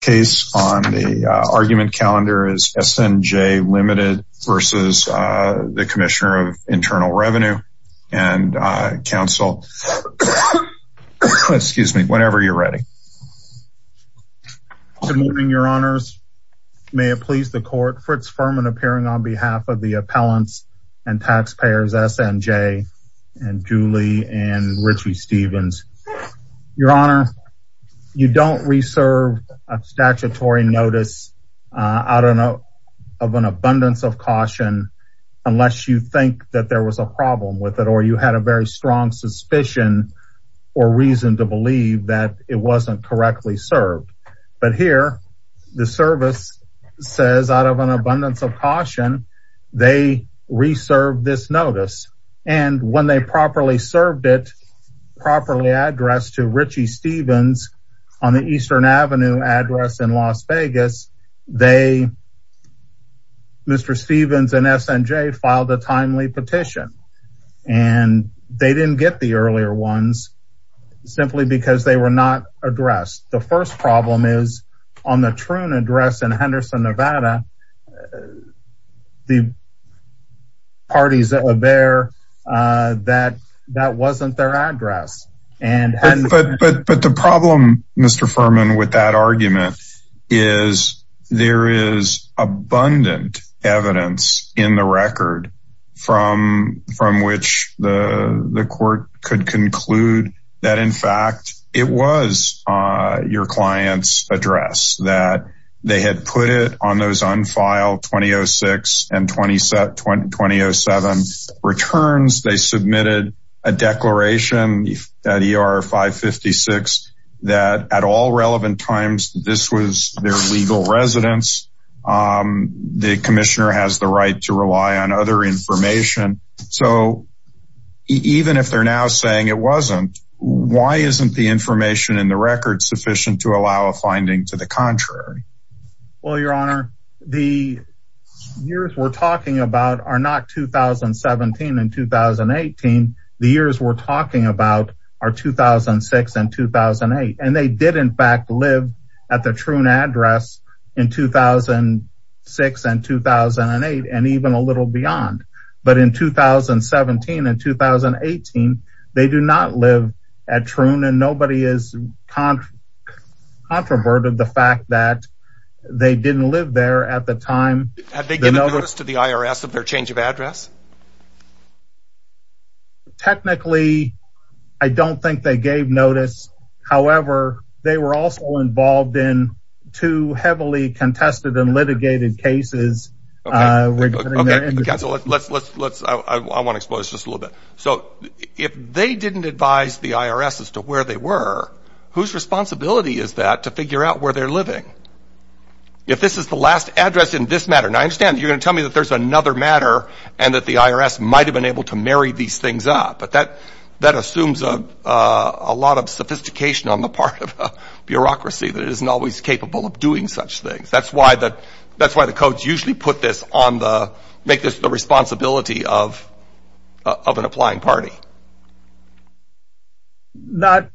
case on the argument calendar is SNJ Limited versus the Commissioner of Internal Revenue and Council. Excuse me, whenever you're ready. Good morning, your honors. May it please the court Fritz Furman appearing on behalf of the appellants and taxpayers SNJ and Julie and Richie Stevens. Your honor, you don't reserve a statutory notice out of an abundance of caution unless you think that there was a problem with it or you had a very strong suspicion or reason to believe that it wasn't correctly served. But here the service says out of an abundance of caution. They reserved this notice and when they properly served it properly addressed to Richie Stevens on the Eastern Avenue address in Las Vegas, they Mr. Stevens and SNJ filed a timely petition and they didn't get the earlier ones simply because they were not addressed. The first problem is on the truant address in Henderson, Nevada. The parties that were there that that wasn't their address. And but but but the problem Mr. Furman with that argument is there is abundant evidence in the record from from which the court could conclude that in fact, it was your clients address that they had put it on those unfiled 2006 and 2007 returns, they submitted a declaration that er 556 that at all relevant times, this was their legal residence. The Commissioner has the right to rely on other information. So even if they're now saying it wasn't, why isn't the information in the record sufficient to allow a finding to the contrary? Well, Your Honor, the years we're talking about are not 2017 and 2018. The years we're talking about are 2006 and 2008. And they did in fact live at the truant address in 2006 and 2008. And even a little beyond. But in 2017 and 2018, they do not live at truant and nobody is controverted the fact that they didn't live there at the time. Have they given notice to the IRS of their change of address? Technically, I don't think they gave notice. However, they were also involved in two heavily contested and litigated cases. Let's let's let's I want to expose just a little bit. So if they didn't advise the IRS as to where they were, whose responsibility is that to figure out where they're living? If this is the last address in this matter, and I understand you're gonna tell me that there's another matter, and that the IRS might have been able to marry these things up. But that that assumes a lot of sophistication on the part of bureaucracy that isn't always capable of doing such things. That's why that that's why the codes usually put this on the make this the responsibility of of an applying party. Not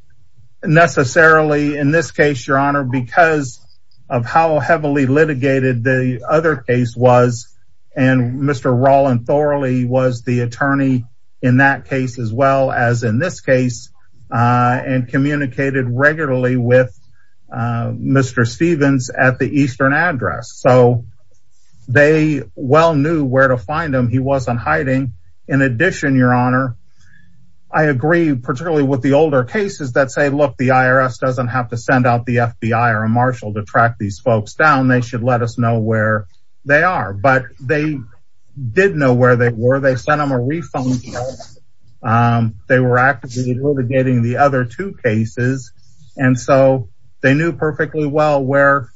necessarily in this case, Your Honor, because of how heavily litigated the other case was. And Mr. Rollin thoroughly was the attorney in that case, as well as in this case, and communicated regularly with Mr. Stevens at the eastern address. So they well knew where to find them. He wasn't hiding. In addition, Your Honor, I agree, particularly with the older cases that say, look, the IRS doesn't have to send out the FBI or a marshal to track these folks down, they should let us know where they are. But they didn't know where they were, they sent him a refund. They were actively litigating the other two cases. And so they knew perfectly well where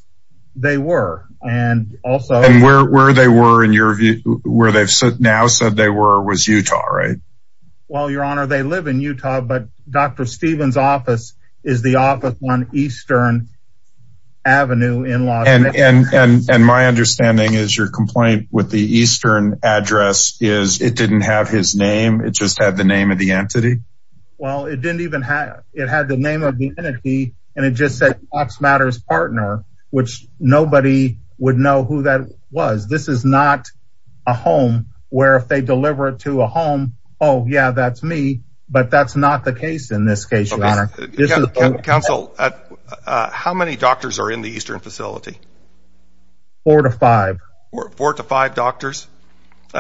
they were. And also where they were in your view, where they've now said they were was Utah, right? Well, Your Honor, they live in Utah. But Dr. Stevens office is the office on Eastern Avenue in and and and my understanding is your complaint with the eastern address is it didn't have his name. It just had the name of the entity. Well, it didn't even have it had the name of the entity. And it just said Fox Matters partner, which nobody would know who that was. This is not a home where if they deliver it to a home. Oh, yeah, that's me. But that's not the case. In this case, Your Honor. Counsel, how many doctors are in the eastern facility? Four to five, or four to five doctors.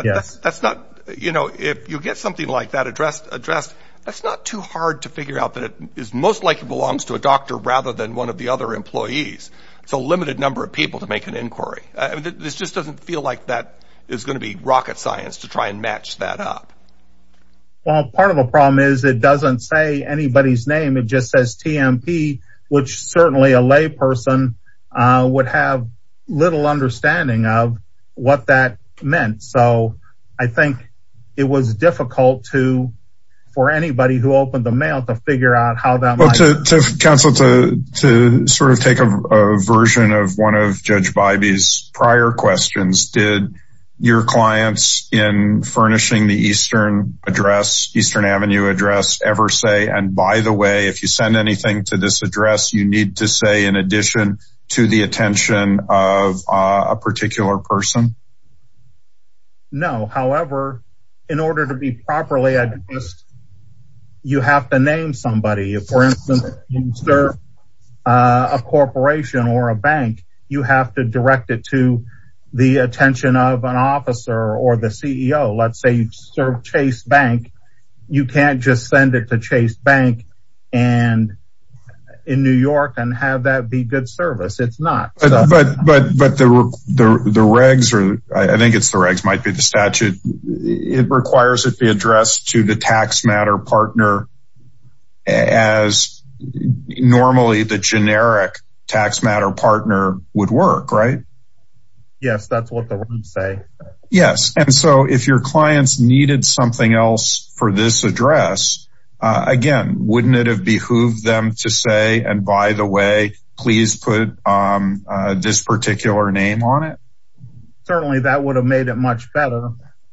Yes, that's not, you know, if you get something like that addressed, addressed, that's not too hard to figure out that it is most likely belongs to a doctor rather than one of the other employees. So limited number of people to make an inquiry. This just doesn't feel like that is going to be rocket science to try and match that up. Well, part of the problem is it doesn't say anybody's name. It just says TMP, which certainly a lay person would have little understanding of what that meant. So I think it was difficult to for anybody who opened the mail to figure out how that counsel to to sort of take a version of one of Judge Bybee's prior questions. Did your clients in furnishing the eastern address Eastern Avenue address ever say and by the way, if you send anything to this address, you need to say in addition to the attention of a particular person? No, however, in order to be properly addressed, you have to name somebody, for instance, sir, a Chase Bank, you can't just send it to Chase Bank. And in New York and have that be good service. It's not but but but the the regs or I think it's the regs might be the statute. It requires it be addressed to the tax matter partner. As normally the generic tax matter partner would work, right? Yes, that's what they say. Yes. And so if your clients needed something else for this address, again, wouldn't it have behooved them to say and by the way, please put this particular name on it. Certainly that would have made it much better.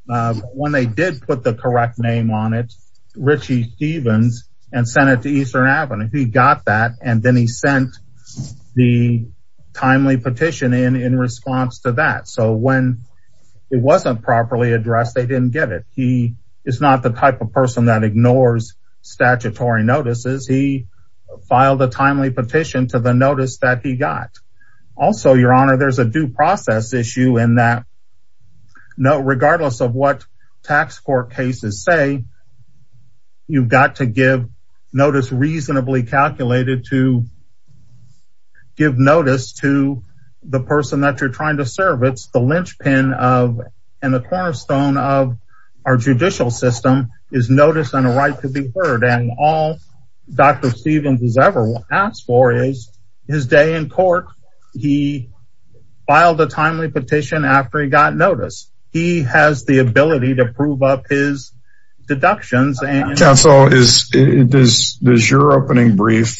When they did put the correct name on it, Richie Stevens and he got that and then he sent the timely petition in in response to that. So when it wasn't properly addressed, they didn't get it. He is not the type of person that ignores statutory notices. He filed a timely petition to the notice that he got. Also, Your Honor, there's a due process issue in that no regardless of what tax court cases say, you've got to give notice reasonably calculated to give notice to the person that you're trying to serve. It's the linchpin of and the cornerstone of our judicial system is notice and a right to be heard and all Dr. Stevens has ever asked for is his day in court. He filed a timely petition after he got notice. He has the deductions and counsel is it is this your opening brief?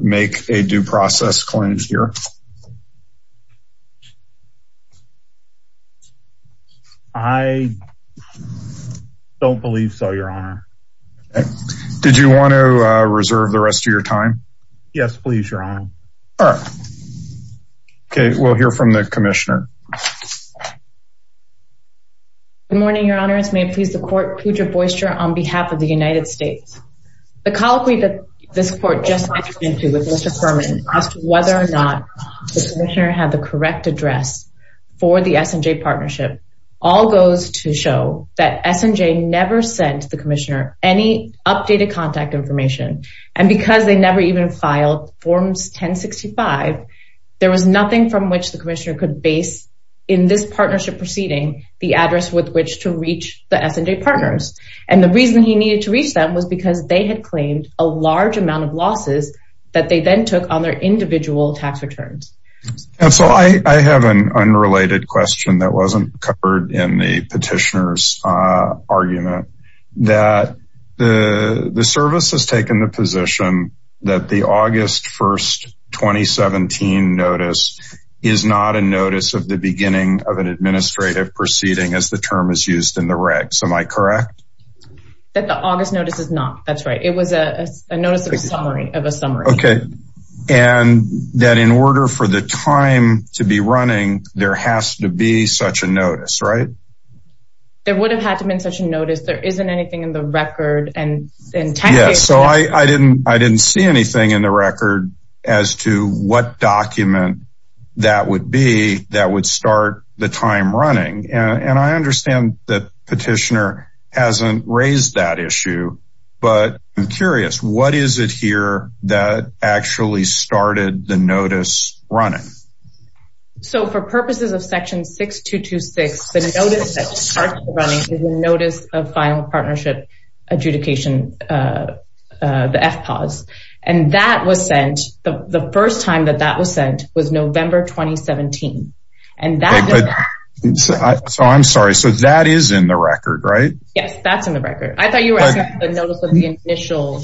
Make a due process claims here. I don't believe so. Your Honor. Did you want to reserve the rest of your time? Yes, please. Your honor. Okay, we'll hear from the commissioner. Good morning, Your Honor. It's may please the court Pooja Boyster on behalf of the United States. The colloquy that this court just went into with Mr. Furman as to whether or not the commissioner had the correct address for the S&J partnership, all goes to show that S&J never sent the commissioner any updated contact information. And because they never even filed forms 1065, there was nothing from which the commissioner could base in this partnership proceeding, the address with which to reach the S&J partners. And the reason he needed to reach them was because they had claimed a large amount of losses that they then took on their individual tax returns. And so I have an unrelated question that wasn't covered in the petitioners argument that the service has taken the position that the August 1st, 2017 notice is not a notice of the beginning of an administrative proceeding as the term is used in the regs. Am I correct? That the August notice is not. That's right. It was a notice of a summary. Okay. And that in order for the time to be running, there has to be such a notice, right? There would have had to been such a notice. There isn't anything in the record and in- Yes. So I didn't, I didn't see anything in the record as to what document that would be that would start the time running. And I understand that petitioner hasn't raised that issue. But I'm curious, what is it here that actually started the notice running? So for purposes of section 6226, the notice that starts running is a notice of final partnership adjudication, the FPAWS. And that was sent, the first time that that was sent was November 2017. And that- So I'm sorry. So that is in the record, right? Yes, that's in the record. I thought you were asking for the notice of the initial,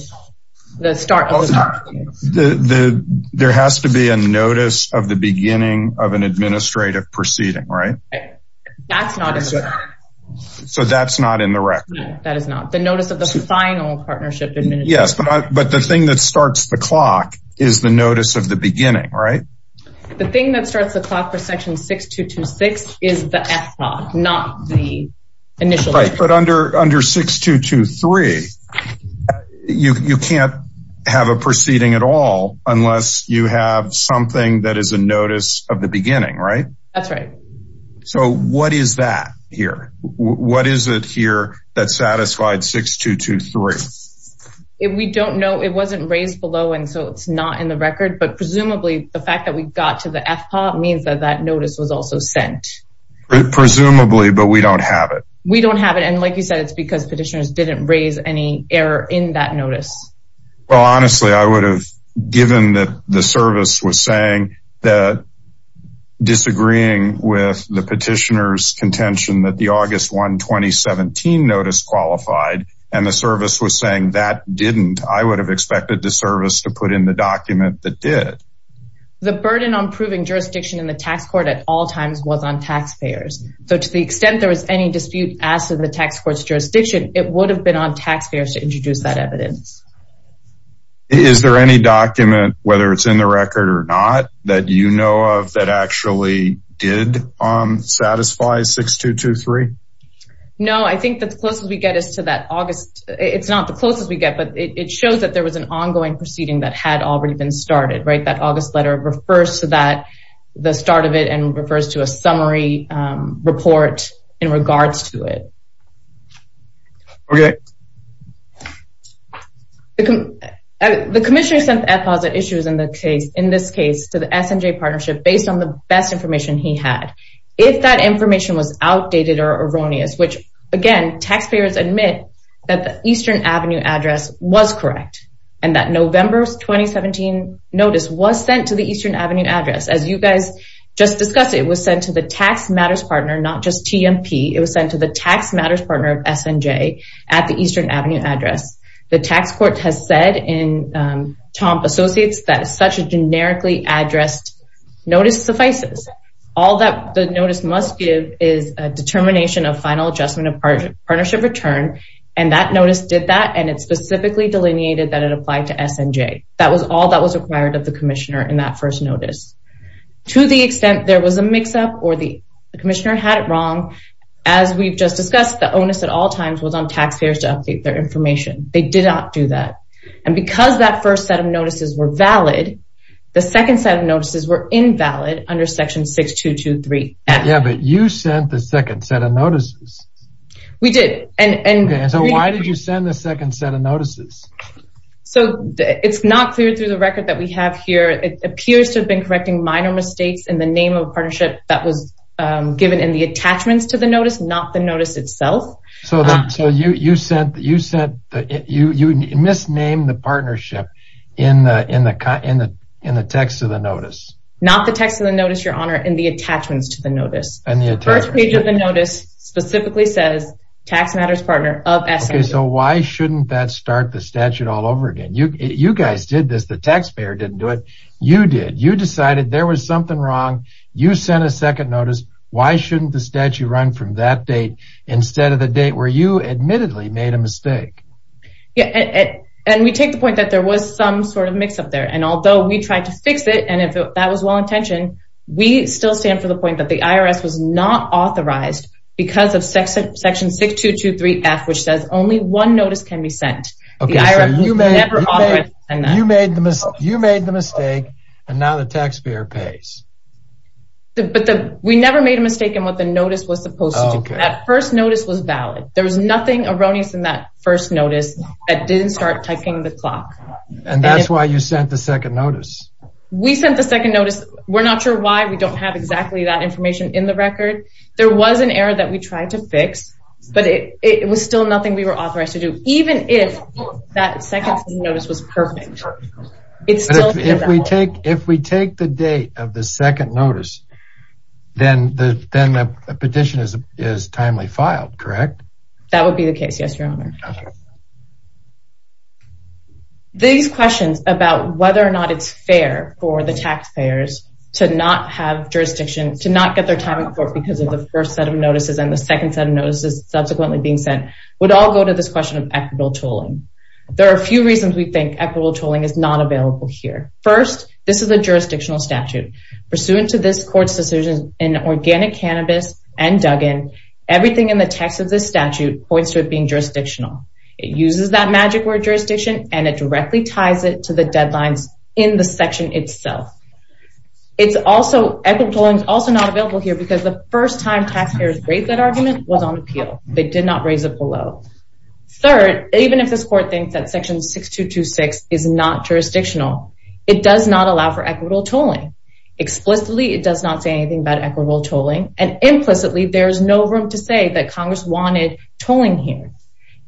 the start of the- The, the, there has to be a notice of the beginning of an administrative proceeding, right? That's not in the record. So that's not in the record. That is not. The notice of the final partnership adjudication. Yes, but the thing that starts the clock is the notice of the beginning, right? The thing that starts the clock for section 6226 is the FPAWS, not the initial- But under, under 6223, you can't have a proceeding at all, unless you have something that is a notice of the beginning, right? That's right. So what is that here? What is it here that satisfied 6223? If we don't know, it wasn't raised below. And so it's not in the record. But presumably, the fact that we got to the FPAWS means that that notice was also sent. Presumably, but we don't have it. We don't have it. And like you said, it's because petitioners didn't raise any error in that notice. Well, honestly, I would have, given that the service was saying that disagreeing with the petitioners' contention that the August 1, 2017 notice qualified, and the service was saying that didn't, I would have expected the service to put in the document that did. The burden on proving jurisdiction in the tax court at all times was on taxpayers. So to the extent there was any dispute as to the tax court's jurisdiction, it would have been on taxpayers to introduce that evidence. Is there any document, whether it's in the record or not, that you know of that actually did satisfy 6223? No, I think that the closest we get is to that August, it's not the closest we get, but it shows that there was an ongoing proceeding that had already been started, right? That August letter refers to that, the start of it, and refers to a summary report in regards to it. Okay. The Commissioner sent FPAWS at issues in the case, in this case, to the SNJ Partnership based on the best information he had. If that information was outdated or erroneous, which, again, taxpayers admit that the Eastern Avenue address was correct, and that November's 2017 notice was sent to the Eastern Avenue address. As you guys just discussed, it was sent to the tax matters partner, not just TMP, it was sent to the tax matters partner of SNJ at the Eastern Avenue address. The tax court has said in Tomp Associates that such a generically addressed notice suffices. All that the notice must give is a determination of final adjustment of partnership return, and that notice did that, and it specifically delineated that it applied to SNJ. That was all that was required of the Commissioner in that first notice. To the extent there was a mix-up or the Commissioner had it wrong, as we've just discussed, the onus at all times was on taxpayers to update their information. They did not do that. And because that first set of notices were valid, the second set of notices were invalid under Section 6223. Yeah, but you sent the second set of notices. We did. And so why did you send the second set of notices? So it's not clear through the record that we have here. It appears to have been correcting minor mistakes in the name of a partnership that was given in the attachments to the notice, not the notice itself. So you misnamed the partnership in the text of the notice. Not the text of the notice, Your Honor, in the attachments to the notice. And the attachments. The first page of the notice specifically says, Tax Matters Partner of SNJ. So why shouldn't that start the statute all over again? You guys did this. The taxpayer didn't do it. You did. You decided there was something wrong. You sent a second notice. Why shouldn't the statute run from that date instead of the date where you admittedly made a mistake? Yeah, and we take the point that there was some sort of mix up there. And although we tried to fix it, and if that was well intentioned, we still stand for the point that the IRS was not authorized because of Section 6223F, which says only one notice can be sent. Okay, so you made the mistake and now the taxpayer pays. But we never made a mistake in what the notice was supposed to do. That first notice was valid. There was nothing erroneous in that first notice that didn't start ticking the clock. And that's why you sent the second notice. We sent the second notice. We're not sure why. We don't have exactly that information in the record. There was an error that we tried to fix, but it was still nothing we were authorized to do, even if that second notice was perfect. But if we take the date of the second notice, then the petition is timely filed, correct? That would be the case, yes, Your Honor. These questions about whether or not it's fair for the taxpayers to not have jurisdiction, to not get their time in court because of the first set of notices and the second set of notices subsequently being sent, would all go to this question of equitable tolling. There are a few reasons we think equitable tolling is not available here. First, this is a jurisdictional statute. Pursuant to this court's decision in Organic Cannabis and Duggan, everything in the text of this statute points to it being jurisdictional. It uses that magic word, jurisdiction, and it directly ties it to the deadlines in the section itself. Equitable tolling is also not available here because the first time taxpayers raised that argument was on appeal. They did not raise it below. Third, even if this court thinks that section 6226 is not jurisdictional, it does not allow for equitable tolling. Explicitly, it does not say anything about equitable tolling. And implicitly, there is no room to say that Congress wanted tolling here.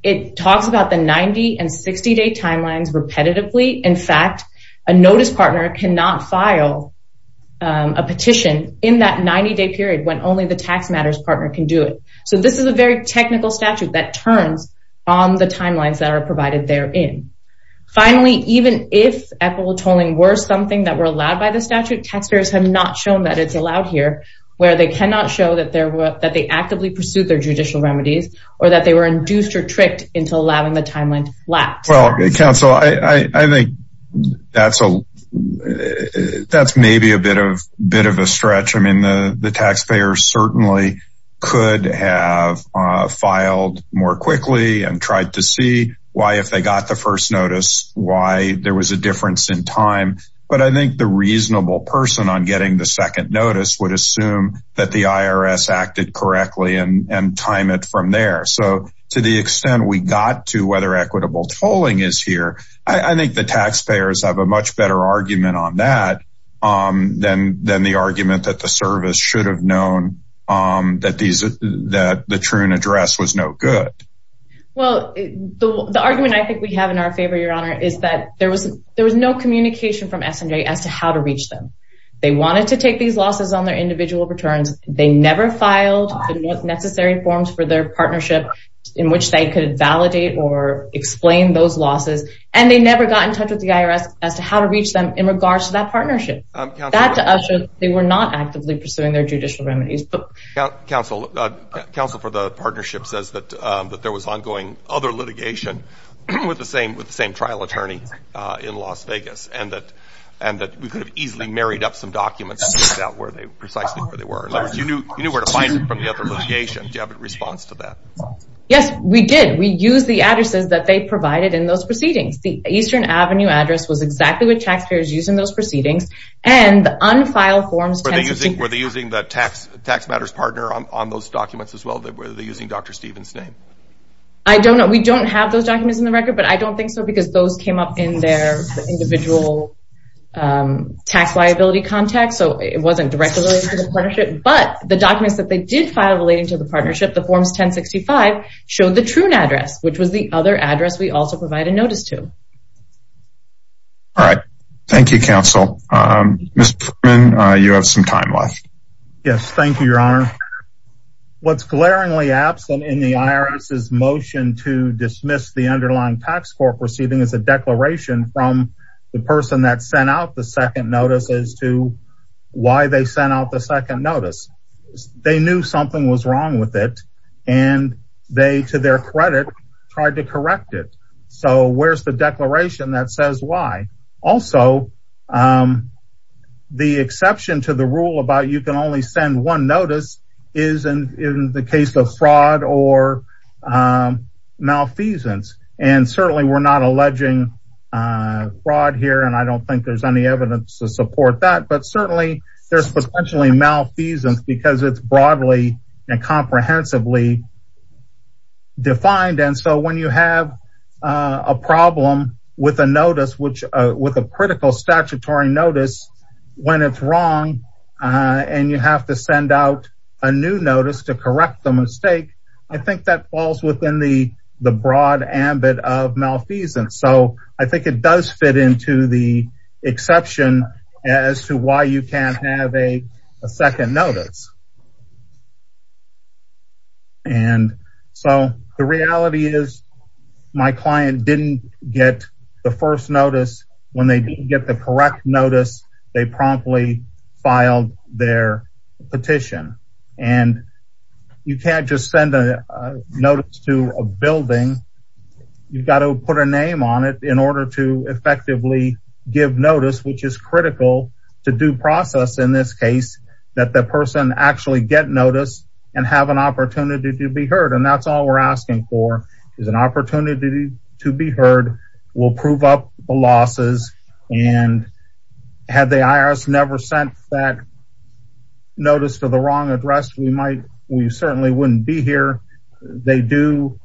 It talks about the 90 and 60-day timelines repetitively. In fact, a notice partner cannot file a petition in that 90-day period when only the tax matters partner can do it. So this is a very technical statute that turns on the timelines that are provided therein. Finally, even if equitable tolling were something that were allowed by the statute, taxpayers have not shown that it's allowed here, where they cannot show that they actively pursued their judicial remedies or that they were induced or tricked into allowing the timeline to lapse. Well, counsel, I think that's maybe a bit of a stretch. The taxpayers certainly could have filed more quickly and tried to see why, if they got the first notice, why there was a difference in time. But I think the reasonable person on getting the second notice would assume that the IRS acted correctly and time it from there. So to the extent we got to whether equitable tolling is here, I think the taxpayers have a much better argument on that than the argument that the service should have known that the Troon address was no good. Well, the argument I think we have in our favor, Your Honor, is that there was no communication from S&J as to how to reach them. They wanted to take these losses on their individual returns. They never filed the necessary forms for their partnership in which they could validate or explain those losses. And they never got in touch with the IRS as to how to reach them in regards to that partnership. That to us shows they were not actively pursuing their judicial remedies. But counsel, counsel for the partnership says that there was ongoing other litigation with the same trial attorney in Las Vegas, and that we could have easily married up some documents to find out precisely where they were. In other words, you knew where to find them from the other litigation. Do you have a response to that? Yes, we did. We used the addresses that they provided in those proceedings. The Eastern Avenue address was exactly what taxpayers used in those proceedings. And the unfiled forms... Were they using the tax matters partner on those documents as well? Were they using Dr. Stevens' name? I don't know. We don't have those documents in the record, but I don't think so because those came up in their individual tax liability context. So it wasn't directly related to the partnership. But the documents that they did file relating to the partnership, the forms 1065, showed the Troon address, which was the other address we also provided notice to. All right. Thank you, counsel. Mr. Truman, you have some time left. Yes. Thank you, Your Honor. What's glaringly absent in the IRS's motion to dismiss the underlying tax court proceeding is a declaration from the person that sent out the second notice as to why they sent out the second notice. They knew something was wrong with it, and they, to their credit, tried to correct it. So where's the declaration that says why? Also, the exception to the rule about you can only send one notice is in the case of fraud or malfeasance. And certainly, we're not alleging fraud here, and I don't think there's any evidence to support that. But certainly, there's potentially malfeasance because it's broadly and comprehensively defined. So when you have a problem with a critical statutory notice when it's wrong, and you have to send out a new notice to correct the mistake, I think that falls within the broad ambit of malfeasance. So I think it does fit into the exception as to why you can't have a second notice. And so the reality is my client didn't get the first notice. When they didn't get the correct notice, they promptly filed their petition. And you can't just send a notice to a building. You've got to put a name on it in order to effectively give notice, which is critical to due process in this case, that the person actually get notice and have an opportunity to be heard. And that's all we're asking for is an opportunity to be heard. We'll prove up the losses. And had the IRS never sent that notice to the wrong address, we certainly wouldn't be here. They do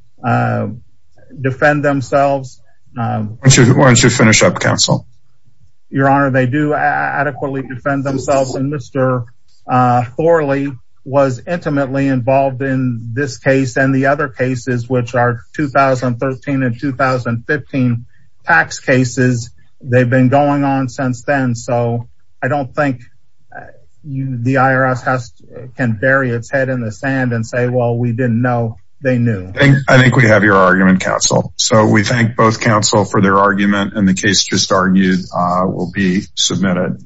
defend themselves. Why don't you finish up, counsel? Your Honor, they do adequately defend themselves. And Mr. Thorley was intimately involved in this case and the other cases, which are 2013 and 2015 tax cases. They've been going on since then. So I don't think the IRS can bury its head in the sand and say, well, we didn't know they knew. I think we have your argument, counsel. So we thank both counsel for their argument. And the case just argued will be submitted.